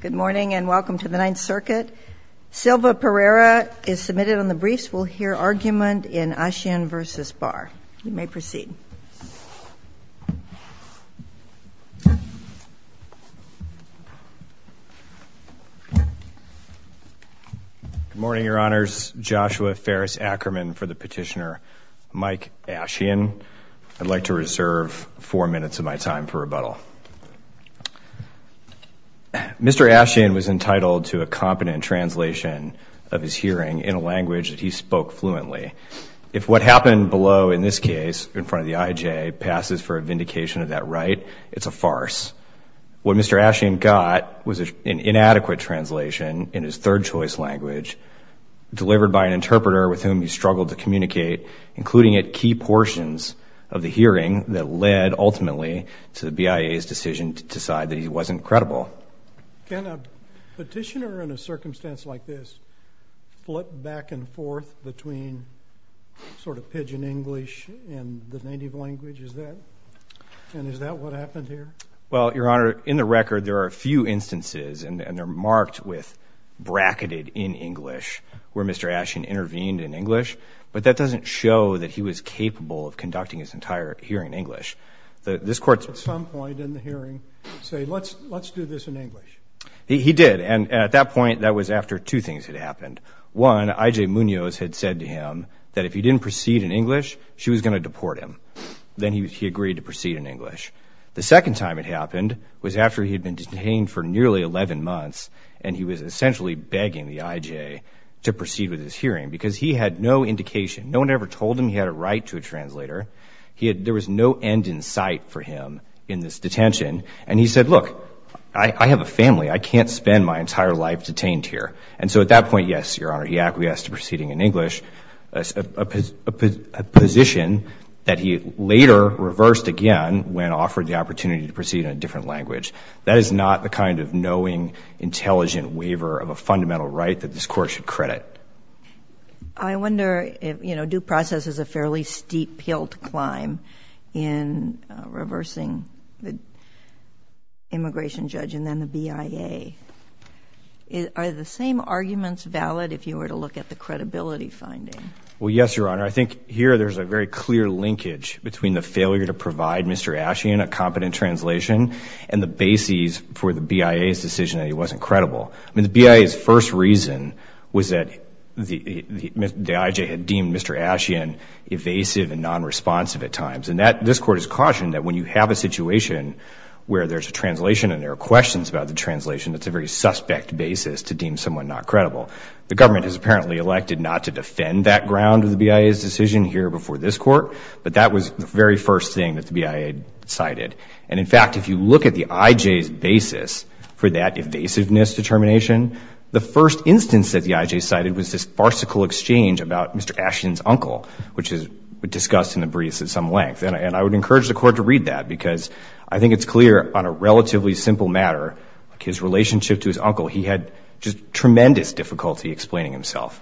Good morning and welcome to the Ninth Circuit. Silva Pereira is submitted on the briefs. We'll hear argument in Ashien v. Barr. You may proceed. Good morning, Your Honors. Joshua Ferris Ackerman for the petitioner. Mike Ashien. I'd like to reserve four minutes of my time for rebuttal. Mr. Ashien was entitled to a competent translation of his hearing in a language that he spoke fluently. If what happened below, in this case, in front of the IJ, passes for a vindication of that right, it's a farce. What Mr. Ashien got was an inadequate translation in his third choice language delivered by an interpreter with whom he struggled to communicate, including at key portions of the hearing that led, ultimately, to the BIA's decision to decide that he wasn't credible. Can a petitioner in a circumstance like this flip back and forth between sort of pidgin English and the native language? Is that? And is that what happened here? Well, Your Honor, in the record, there are a few instances, and they're marked with bracketed in English, where Mr. Ashien intervened in English. But that doesn't show that he was capable of conducting his entire hearing in English. This court's at some point in the hearing say, let's do this in English. He did. And at that point, that was after two things had happened. One, IJ Munoz had said to him that if he didn't proceed in English, she was going to deport him. Then he agreed to proceed in English. The second time it happened was after he had been detained for nearly 11 months, and he was essentially begging the IJ to proceed with his hearing. Because he had no indication. No one ever told him he had a right to a translator. There was no end in sight for him in this detention. And he said, look, I have a family. I can't spend my entire life detained here. And so at that point, yes, Your Honor, he acquiesced to proceeding in English, a position that he later reversed again when offered the opportunity to proceed in a different language. That is not the kind of knowing, intelligent waiver of a fundamental right that this court should credit. I wonder if due process is a fairly steep hill to climb in reversing the immigration judge and then the BIA. Are the same arguments valid if you were to look at the credibility finding? Well, yes, Your Honor. I think here there's a very clear linkage between the failure to provide Mr. Ashen a competent translation and the bases for the BIA's decision that he wasn't credible. The BIA's first reason was that the IJ had deemed Mr. Ashen evasive and non-responsive at times. And this court has cautioned that when you have a situation where there's a translation and there are questions about the translation, that's a very suspect basis to deem someone not credible. The government has apparently elected not to defend that ground of the BIA's decision here before this court. But that was the very first thing that the BIA cited. And in fact, if you look at the IJ's basis for that evasiveness determination, the first instance that the IJ cited was this farcical exchange about Mr. Ashen's uncle, which is discussed in the briefs at some length. And I would encourage the court to read that, because I think it's clear on a relatively simple matter, his relationship to his uncle, he had just tremendous difficulty explaining himself.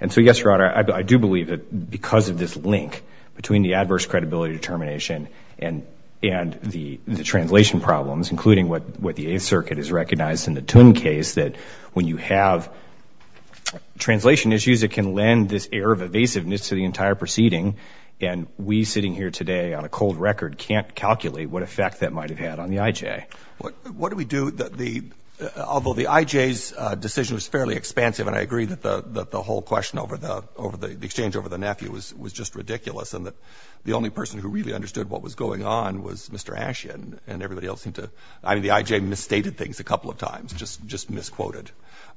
And so yes, Your Honor, I do believe that because of this link between the adverse credibility determination and the translation problems, including what the Eighth Circuit has recognized in the Tun case, that when you have translation issues, it can lend this air of evasiveness to the entire proceeding. And we sitting here today on a cold record can't calculate what effect that might have had on the IJ. What do we do? Although the IJ's decision was fairly expansive, and I agree that the whole question over the exchange over the nephew was just ridiculous, and that the only person who really understood what was going on was Mr. Ashen, and everybody else seemed to. I mean, the IJ misstated things a couple of times, just misquoted.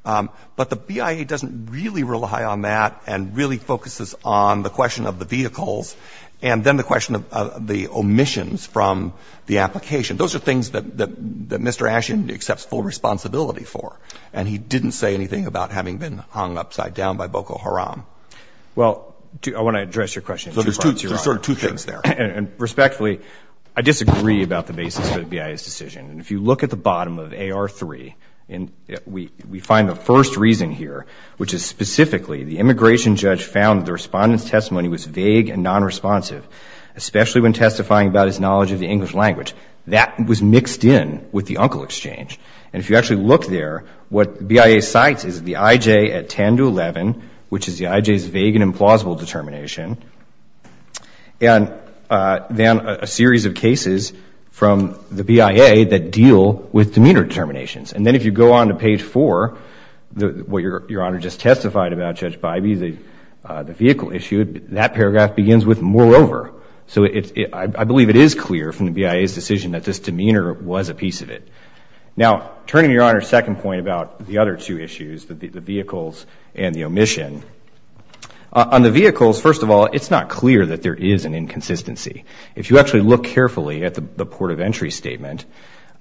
But the BIA doesn't really rely on that and really focuses on the question of the vehicles, and then the question of the omissions from the application. Those are things that Mr. Ashen accepts full responsibility for, and he didn't say anything about having been hung upside down by Boko Haram. Well, I want to address your question. So there's two things there. And respectfully, I disagree about the basis for the BIA's decision. And if you look at the bottom of AR3, we find the first reason here, which is specifically the immigration judge found the respondent's testimony was vague and non-responsive, especially when testifying about his knowledge of the English language. That was mixed in with the uncle exchange. And if you actually look there, what the BIA cites is the IJ at 10 to 11, which is the IJ's vague and implausible determination, and then a series of cases from the BIA that deal with demeanor determinations. And then if you go on to page 4, what Your Honor just testified about, Judge Bybee, the vehicle issue, that paragraph begins with, moreover. So I believe it is clear from the BIA's decision that this demeanor was a piece of it. Now, turning to Your Honor's second point about the other two issues, the vehicles and the omission, on the vehicles, first of all, there's it's not clear that there is an inconsistency. If you actually look carefully at the port of entry statement,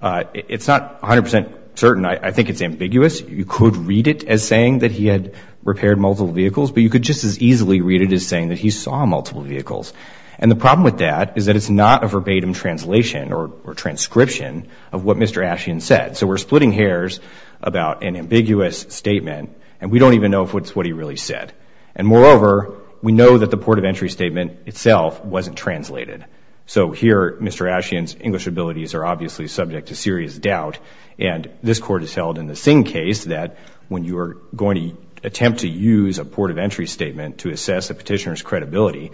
it's not 100% certain. I think it's ambiguous. You could read it as saying that he had repaired multiple vehicles, but you could just as easily read it as saying that he saw multiple vehicles. And the problem with that is that it's not a verbatim translation or transcription of what Mr. Asheon said. So we're splitting hairs about an ambiguous statement, and we don't even know if it's what he really said. And moreover, we know that the port of entry statement itself wasn't translated. So here, Mr. Asheon's English abilities are obviously subject to serious doubt, and this court has held in the same case that when you are going to attempt to use a port of entry statement to assess a petitioner's credibility,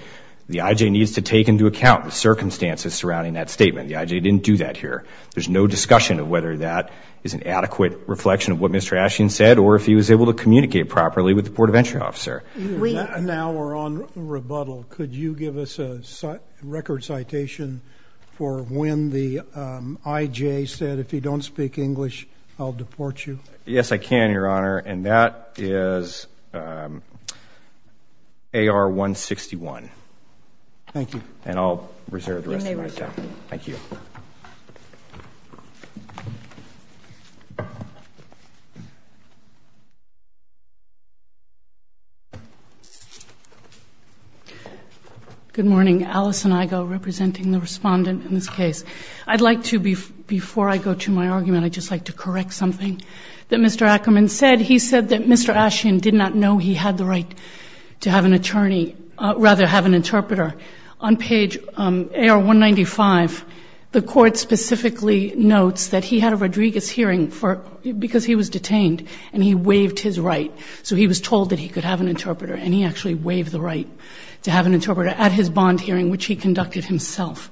the IJ needs to take into account the circumstances surrounding that statement. The IJ didn't do that here. There's no discussion of whether that is an adequate reflection of what Mr. Asheon said, or if he was able to communicate properly with the port of entry officer. Now we're on rebuttal. Could you give us a record citation for when the IJ said, if you don't speak English, I'll deport you? Yes, I can, Your Honor. And that is AR 161. Thank you. And I'll reserve the rest of my time. Thank you. Good morning. Alice and Igo, representing the respondent in this case. I'd like to, before I go to my argument, I'd just like to correct something that Mr. Ackerman said. He said that Mr. Asheon did not know he had the right to have an attorney, rather have an interpreter. On page AR 195, the court specifically notes that he had a Rodriguez hearing because he was detained, and he waived his right. So he was told that he had a right that he could have an interpreter, and he actually waived the right to have an interpreter at his bond hearing, which he conducted himself.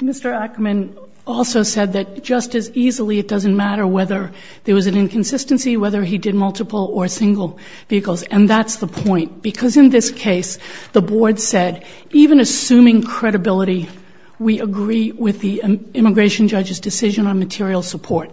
Mr. Ackerman also said that just as easily, it doesn't matter whether there was an inconsistency, whether he did multiple or single vehicles. And that's the point. Because in this case, the board said, even assuming credibility, we agree with the immigration judge's decision on material support.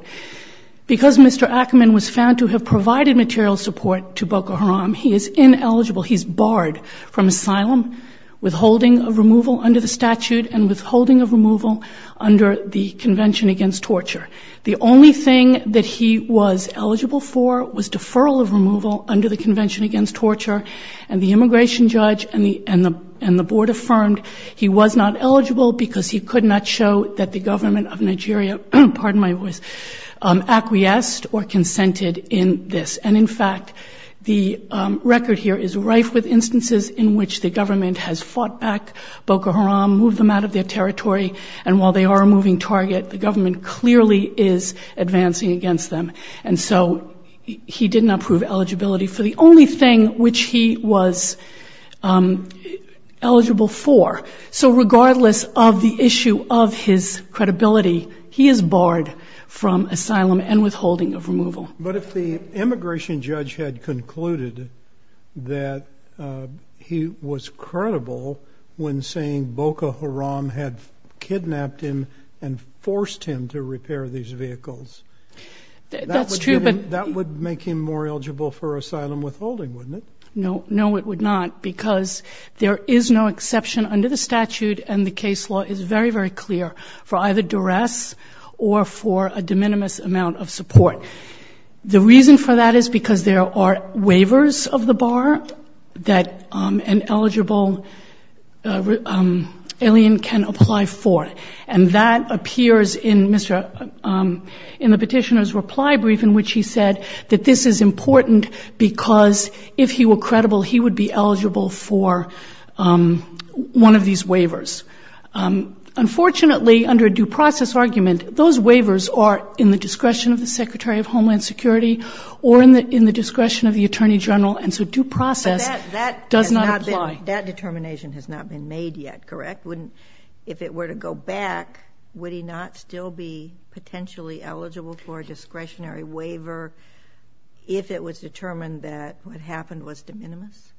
Because Mr. Ackerman was found to have material support to Boko Haram, he is ineligible. He's barred from asylum, withholding of removal under the statute, and withholding of removal under the Convention Against Torture. The only thing that he was eligible for was deferral of removal under the Convention Against Torture. And the immigration judge and the board affirmed he was not eligible because he could not show that the government of Nigeria acquiesced or consented in this. And in fact, the record here is rife with instances in which the government has fought back Boko Haram, moved them out of their territory, and while they are a moving target, the government clearly is advancing against them. And so he did not prove eligibility for the only thing which he was eligible for. So regardless of the issue of his credibility, he is barred from asylum and withholding of removal. But if the immigration judge had concluded that he was credible when saying Boko Haram had kidnapped him and forced him to repair these vehicles, that would make him more eligible for asylum withholding, wouldn't it? No. No, it would not, because there is no exception under the statute. And the case law is very, very clear for either duress or for a de minimis amount of support. The reason for that is because there are waivers of the bar that an eligible alien can apply for. And that appears in the petitioner's reply brief in which he said that this is important because if he were credible, he would be eligible for one of these waivers. Unfortunately, under a due process argument, those waivers are in the discretion of the Secretary of Homeland Security or in the discretion of the Attorney General. And so due process does not apply. That determination has not been made yet, correct? If it were to go back, would he not still be potentially eligible for a discretionary waiver if it was determined that what happened was de minimis?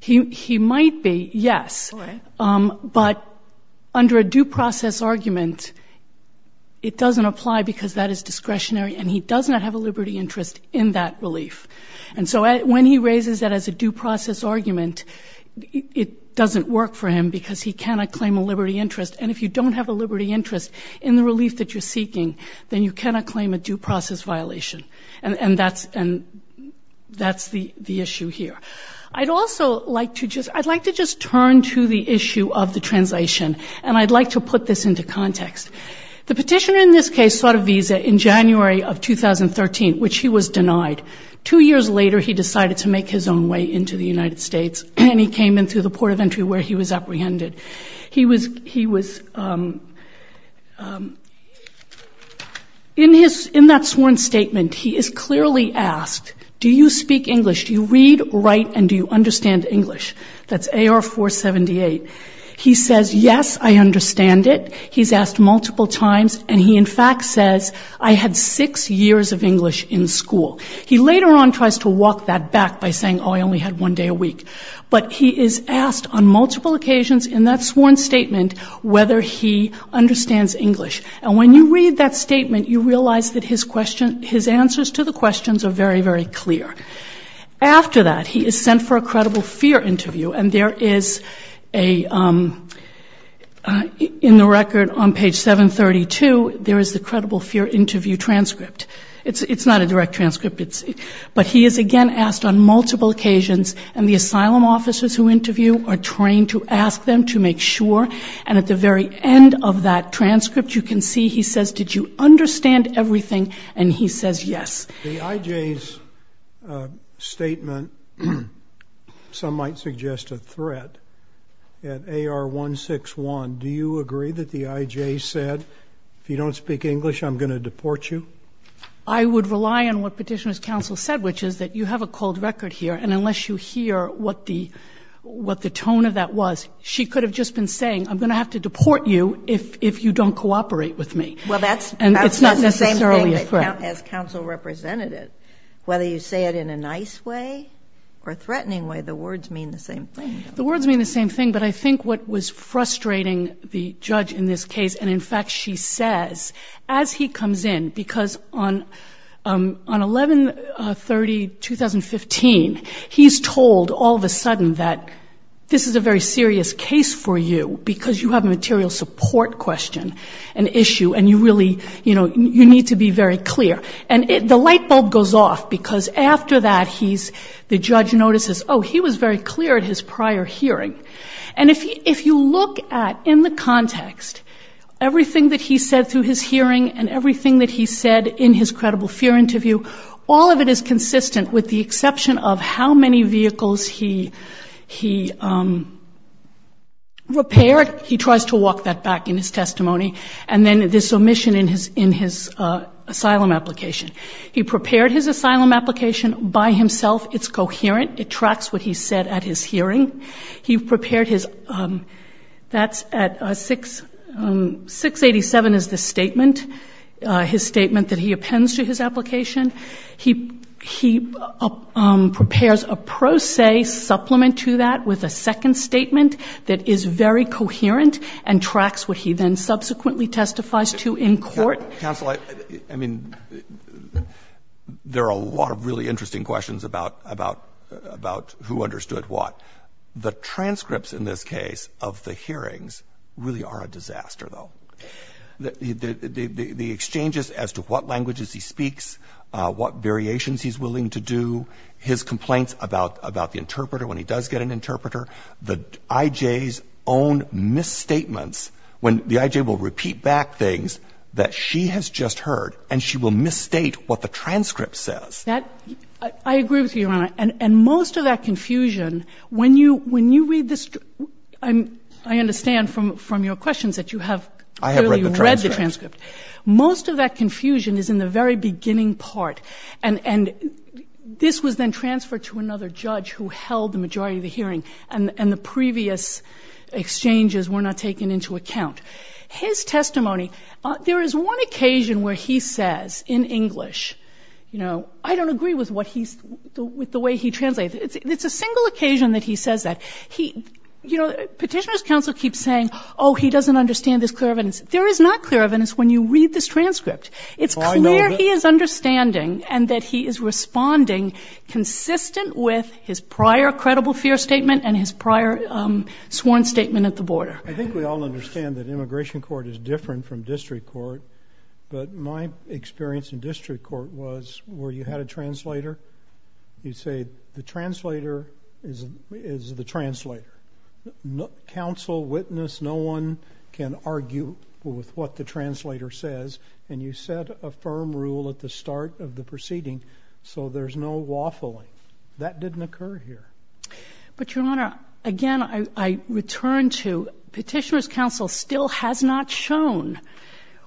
He might be, yes. But under a due process argument, it doesn't apply because that is discretionary and he does not have a liberty interest in that relief. And so when he raises that as a due process argument, it doesn't work for him because he cannot claim a liberty interest. And if you don't have a liberty interest in the relief that you're seeking, then you cannot claim a due process violation. And that's the issue here. I'd also like to just turn to the issue of the translation. And I'd like to put this into context. The petitioner in this case sought a visa in January of 2013, which he was denied. Two years later, he decided to make his own way into the United States. And he came in through the port of entry where he was apprehended. He was, in that sworn statement, he is clearly asked, do you speak English? Do you read, write, and do you understand English? That's AR 478. He says, yes, I understand it. He's asked multiple times. And he, in fact, says, I had six years of English in school. He later on tries to walk that back by saying, oh, I only had one day a week. But he is asked on multiple occasions in that sworn statement whether he understands English. And when you read that statement, you realize that his answers to the questions are very, very clear. After that, he is sent for a credible fear interview. And there is a, in the record on page 732, there is the credible fear interview transcript. It's not a direct transcript. But he is, again, asked on multiple occasions. And the asylum officers who interview are trained to ask them to make sure. And at the very end of that transcript, you can see he says, did you understand everything? And he says, yes. The IJ's statement, some might suggest a threat at AR-161. Do you agree that the IJ said, if you don't speak English, I'm going to deport you? I would rely on what Petitioner's counsel said, which is that you have a cold record here. And unless you hear what the tone of that was, she could have just been saying, I'm going to have to deport you if you don't cooperate with me. Well, that's not necessarily a threat. As counsel representative, whether you say it in a nice way or a threatening way, the words mean the same thing. The words mean the same thing. But I think what was frustrating the judge in this case, and in fact, she says, as he comes in, because on 11-30-2015, he's told all of a sudden that this is a very serious case for you because you have a material support question, an issue. And you really need to be very clear. And the light bulb goes off because after that, the judge notices, oh, he was very clear at his prior hearing. And if you look at, in the context, everything that he said through his hearing and everything that he said in his credible fear interview, all of it is consistent with the exception of how many vehicles he repaired. He tries to walk that back in his testimony. And then this omission in his asylum application. He prepared his asylum application by himself. It's coherent. It tracks what he said at his hearing. He prepared his, that's at 687 is the statement, his statement that he appends to his application. He prepares a pro se supplement to that with a second statement that is very coherent and tracks what he then subsequently testifies to in court. Counsel, I mean, there are a lot of really interesting questions about who understood what. The transcripts in this case of the hearings really are a disaster, though. The exchanges as to what languages he speaks, what variations he's willing to do, his complaints about the interpreter when he does get an interpreter, the IJ's own misstatements when the IJ will repeat back things that she has just heard and she will misstate what the transcript says. I agree with you, Your Honor. And most of that confusion, when you read this, I understand from your questions that you have read the transcript. Most of that confusion is in the very beginning part. And this was then transferred to another judge who held the majority of the hearing. And the previous exchanges were not taken into account. His testimony, there is one occasion where he says in English, you know, I don't agree with the way he translates. It's a single occasion that he says that. Petitioner's counsel keeps saying, oh, he doesn't understand this clear evidence. There is not clear evidence when you read this transcript. It's clear he is understanding and that he is responding consistent with his prior credible fear statement and his prior sworn statement at the border. I think we all understand that immigration court is different from district court. But my experience in district court was where you had a translator, you'd say, the translator is the translator. Counsel, witness, no one can argue with what the translator says. And you set a firm rule at the start of the proceeding. So there's no waffling. That didn't occur here. But Your Honor, again, I return to petitioner's counsel still has not shown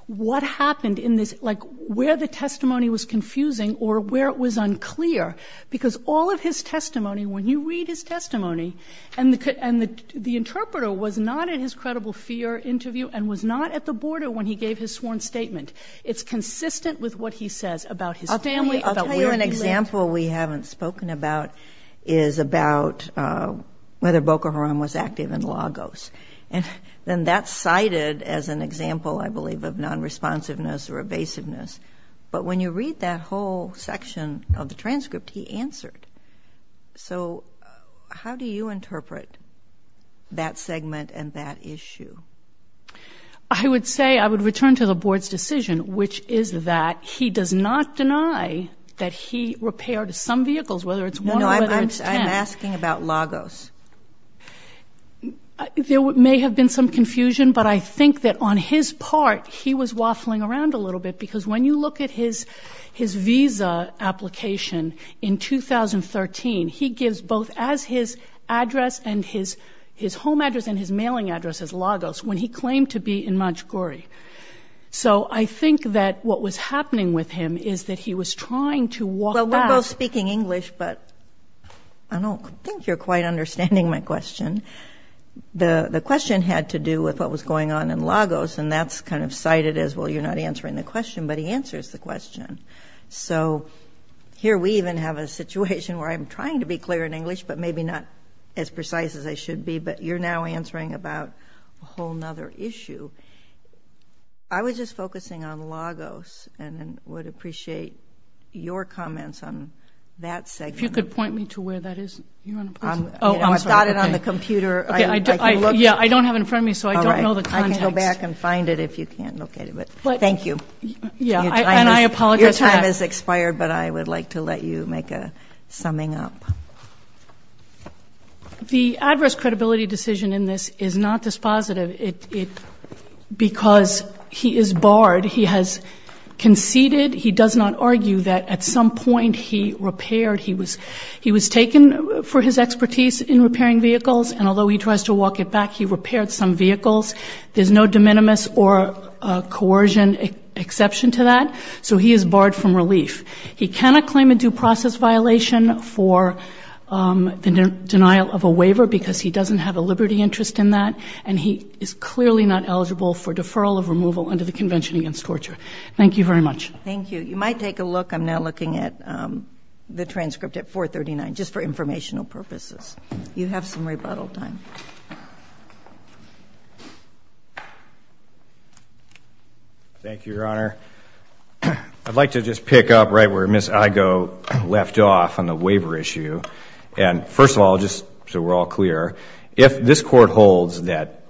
what happened in this, like where the testimony was confusing or where it was unclear. Because all of his testimony, when you read his testimony, and the interpreter was not in his credible fear interview and was not at the border when he gave his sworn statement. It's consistent with what he says about his family, about where he lived. I'll tell you an example we haven't spoken about is about whether Boko Haram was active in Lagos. And then that's cited as an example, I believe, of non-responsiveness or evasiveness. But when you read that whole section of the transcript, he answered. So how do you interpret that segment and that issue? I would say, I would return to the board's decision, which is that he does not deny that he repaired some vehicles, whether it's one or whether it's 10. No, no, I'm asking about Lagos. There may have been some confusion, but I think that on his part, he was waffling around a little bit. Because when you look at his visa application in 2013, he gives both as his address and his home address and his mailing address as Lagos, when he claimed to be in Montgomery. So I think that what was happening with him is that he was trying to walk out. Well, we're both speaking English, but I don't think you're quite understanding my question. The question had to do with what was going on in Lagos, and that's kind of cited as, well, you're not answering the question, but he answers the question. So here we even have a situation where I'm trying to be clear in English, but maybe not as precise as I should be. But you're now answering about a whole nother issue. I was just focusing on Lagos and would appreciate your comments on that segment. If you could point me to where that is, Your Honor, please. Oh, I'm sorry. I've got it on the computer. Yeah, I don't have it in front of me, so I don't know the context. All right, I can go back and find it if you can't locate it, but thank you. Yeah, and I apologize for that. Your time has expired, but I would like to let you make a summing up. The adverse credibility decision in this is not dispositive because he is barred. He has conceded, he does not argue that at some point he repaired, he was taken for his expertise in repairing vehicles. And although he tries to walk it back, he repaired some vehicles. There's no de minimis or coercion exception to that. So he is barred from relief. He cannot claim a due process violation for the denial of a waiver because he doesn't have a liberty interest in that. And he is clearly not eligible for deferral of removal under the Convention Against Torture. Thank you very much. Thank you. You might take a look. I'm now looking at the transcript at 439, just for informational purposes. You have some rebuttal time. Thank you, Your Honor. I'd like to just pick up right where Ms. Igoe left off on the waiver issue. And first of all, just so we're all clear, if this court holds that,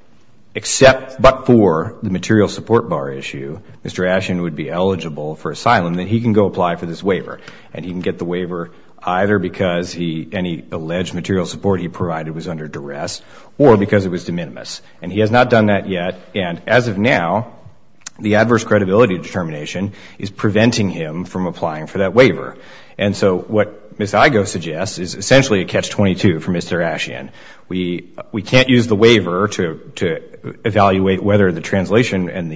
except but for the material support bar issue, Mr. Ashen would be eligible for asylum, then he can go apply for this waiver. And he can get the waiver either because any alleged material support he provided was under duress or because it was de minimis. And he has not done that yet. And as of now, the adverse credibility determination is preventing him from applying for that waiver. And so what Ms. Igoe suggests is essentially a catch-22 for Mr. Ashen, we can't use the waiver to evaluate whether the translation and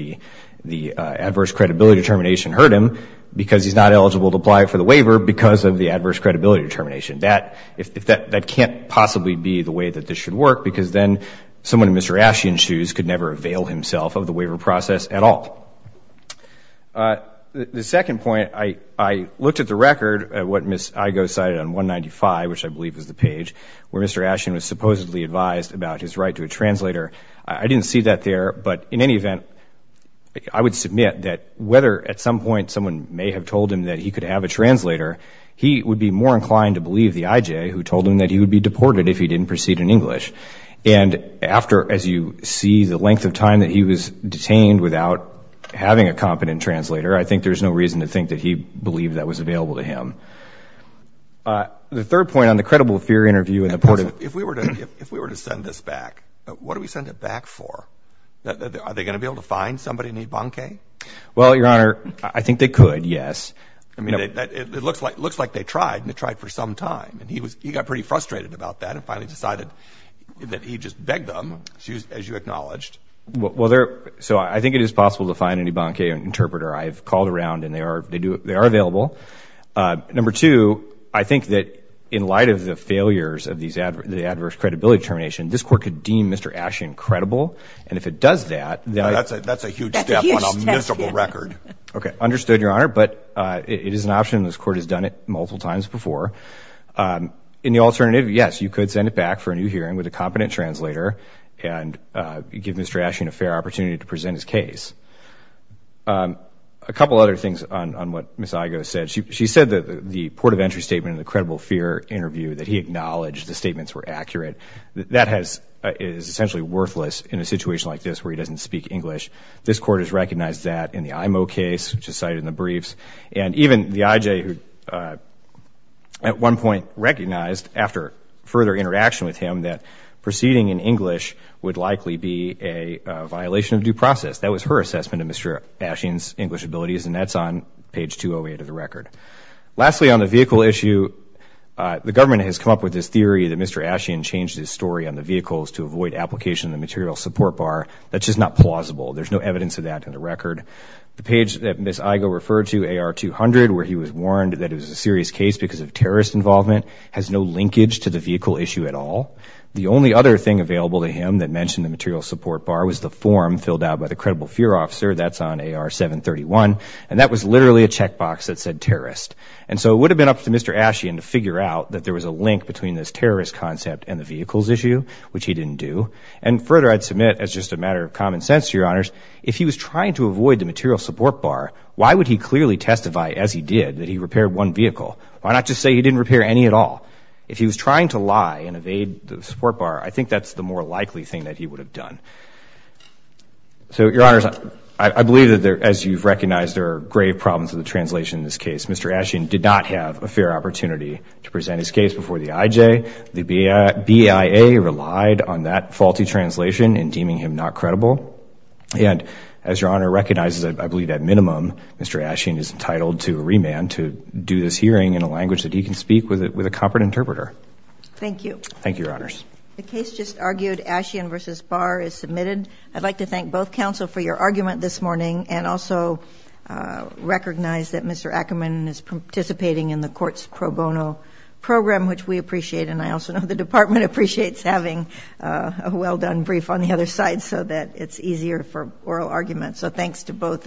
the adverse credibility determination hurt him because he's not eligible to apply for the waiver because of the adverse credibility determination. If that can't possibly be the way that this should work, because then someone in Mr. Ashen's shoes could never avail himself of the waiver process at all. The second point, I looked at the record at what Ms. Igoe cited on 195, which I believe is the page, where Mr. Ashen was supposedly advised about his right to a translator. I didn't see that there. But in any event, I would submit that whether at some point someone may have told him that he could have a translator, he would be more inclined to believe the IJ who told him that he would be deported if he didn't proceed in English. And after, as you see, the length of time that he was detained without having a competent translator, I think there's no reason to think that he believed that was available to him. The third point on the credible fear interview and the port of- If we were to send this back, what do we send it back for? Are they going to be able to find somebody in Ibanque? Well, Your Honor, I think they could, yes. I mean, it looks like they tried, and they tried for some time. And he got pretty frustrated about that and finally decided that he'd just beg them, as you acknowledged. Well, so I think it is possible to find an Ibanque interpreter. I've called around and they are available. Number two, I think that in light of the failures of the adverse credibility termination, this court could deem Mr. Ashing credible. And if it does that- That's a huge step on a miserable record. Okay, understood, Your Honor. But it is an option. This court has done it multiple times before. In the alternative, yes, you could send it back for a new hearing with a competent translator and give Mr. Ashing a fair opportunity to present his case. A couple other things on what Ms. Igoe said. She said that the port of entry statement in the credible fear interview that he acknowledged the statements were accurate, that is essentially worthless in a situation like this where he doesn't speak English. This court has recognized that in the IMO case, which is cited in the briefs. And even the IJ, who at one point recognized after further interaction with him that proceeding in English would likely be a violation of due process. That was her assumption. That was her assessment of Mr. Ashing's English abilities. And that's on page 208 of the record. Lastly, on the vehicle issue, the government has come up with this theory that Mr. Ashing changed his story on the vehicles to avoid application of the material support bar. That's just not plausible. There's no evidence of that in the record. The page that Ms. Igoe referred to, AR 200, where he was warned that it was a serious case because of terrorist involvement has no linkage to the vehicle issue at all. The only other thing available to him that mentioned the material support bar was the form filled out by the credible fear officer. That's on AR 731. And that was literally a checkbox that said terrorist. And so it would have been up to Mr. Ashing to figure out that there was a link between this terrorist concept and the vehicles issue, which he didn't do. And further, I'd submit, as just a matter of common sense to your honors, if he was trying to avoid the material support bar, why would he clearly testify as he did that he repaired one vehicle? Why not just say he didn't repair any at all? If he was trying to lie and evade the support bar, I think that's the more likely thing that he would have done. So your honors, I believe that there, as you've recognized, there are grave problems with the translation in this case. Mr. Ashing did not have a fair opportunity to present his case before the IJ. The BIA relied on that faulty translation in deeming him not credible. And as your honor recognizes, I believe at minimum, Mr. Ashing is entitled to remand to do this hearing in a language that he can speak with a competent interpreter. Thank you. Thank you, your honors. The case just argued Ashing versus Barr is submitted. I'd like to thank both counsel for your argument this morning and also recognize that Mr. Ackerman is participating in the court's pro bono program, which we appreciate. And I also know the department appreciates having a well-done brief on the other side so that it's easier for oral argument. So thanks to both.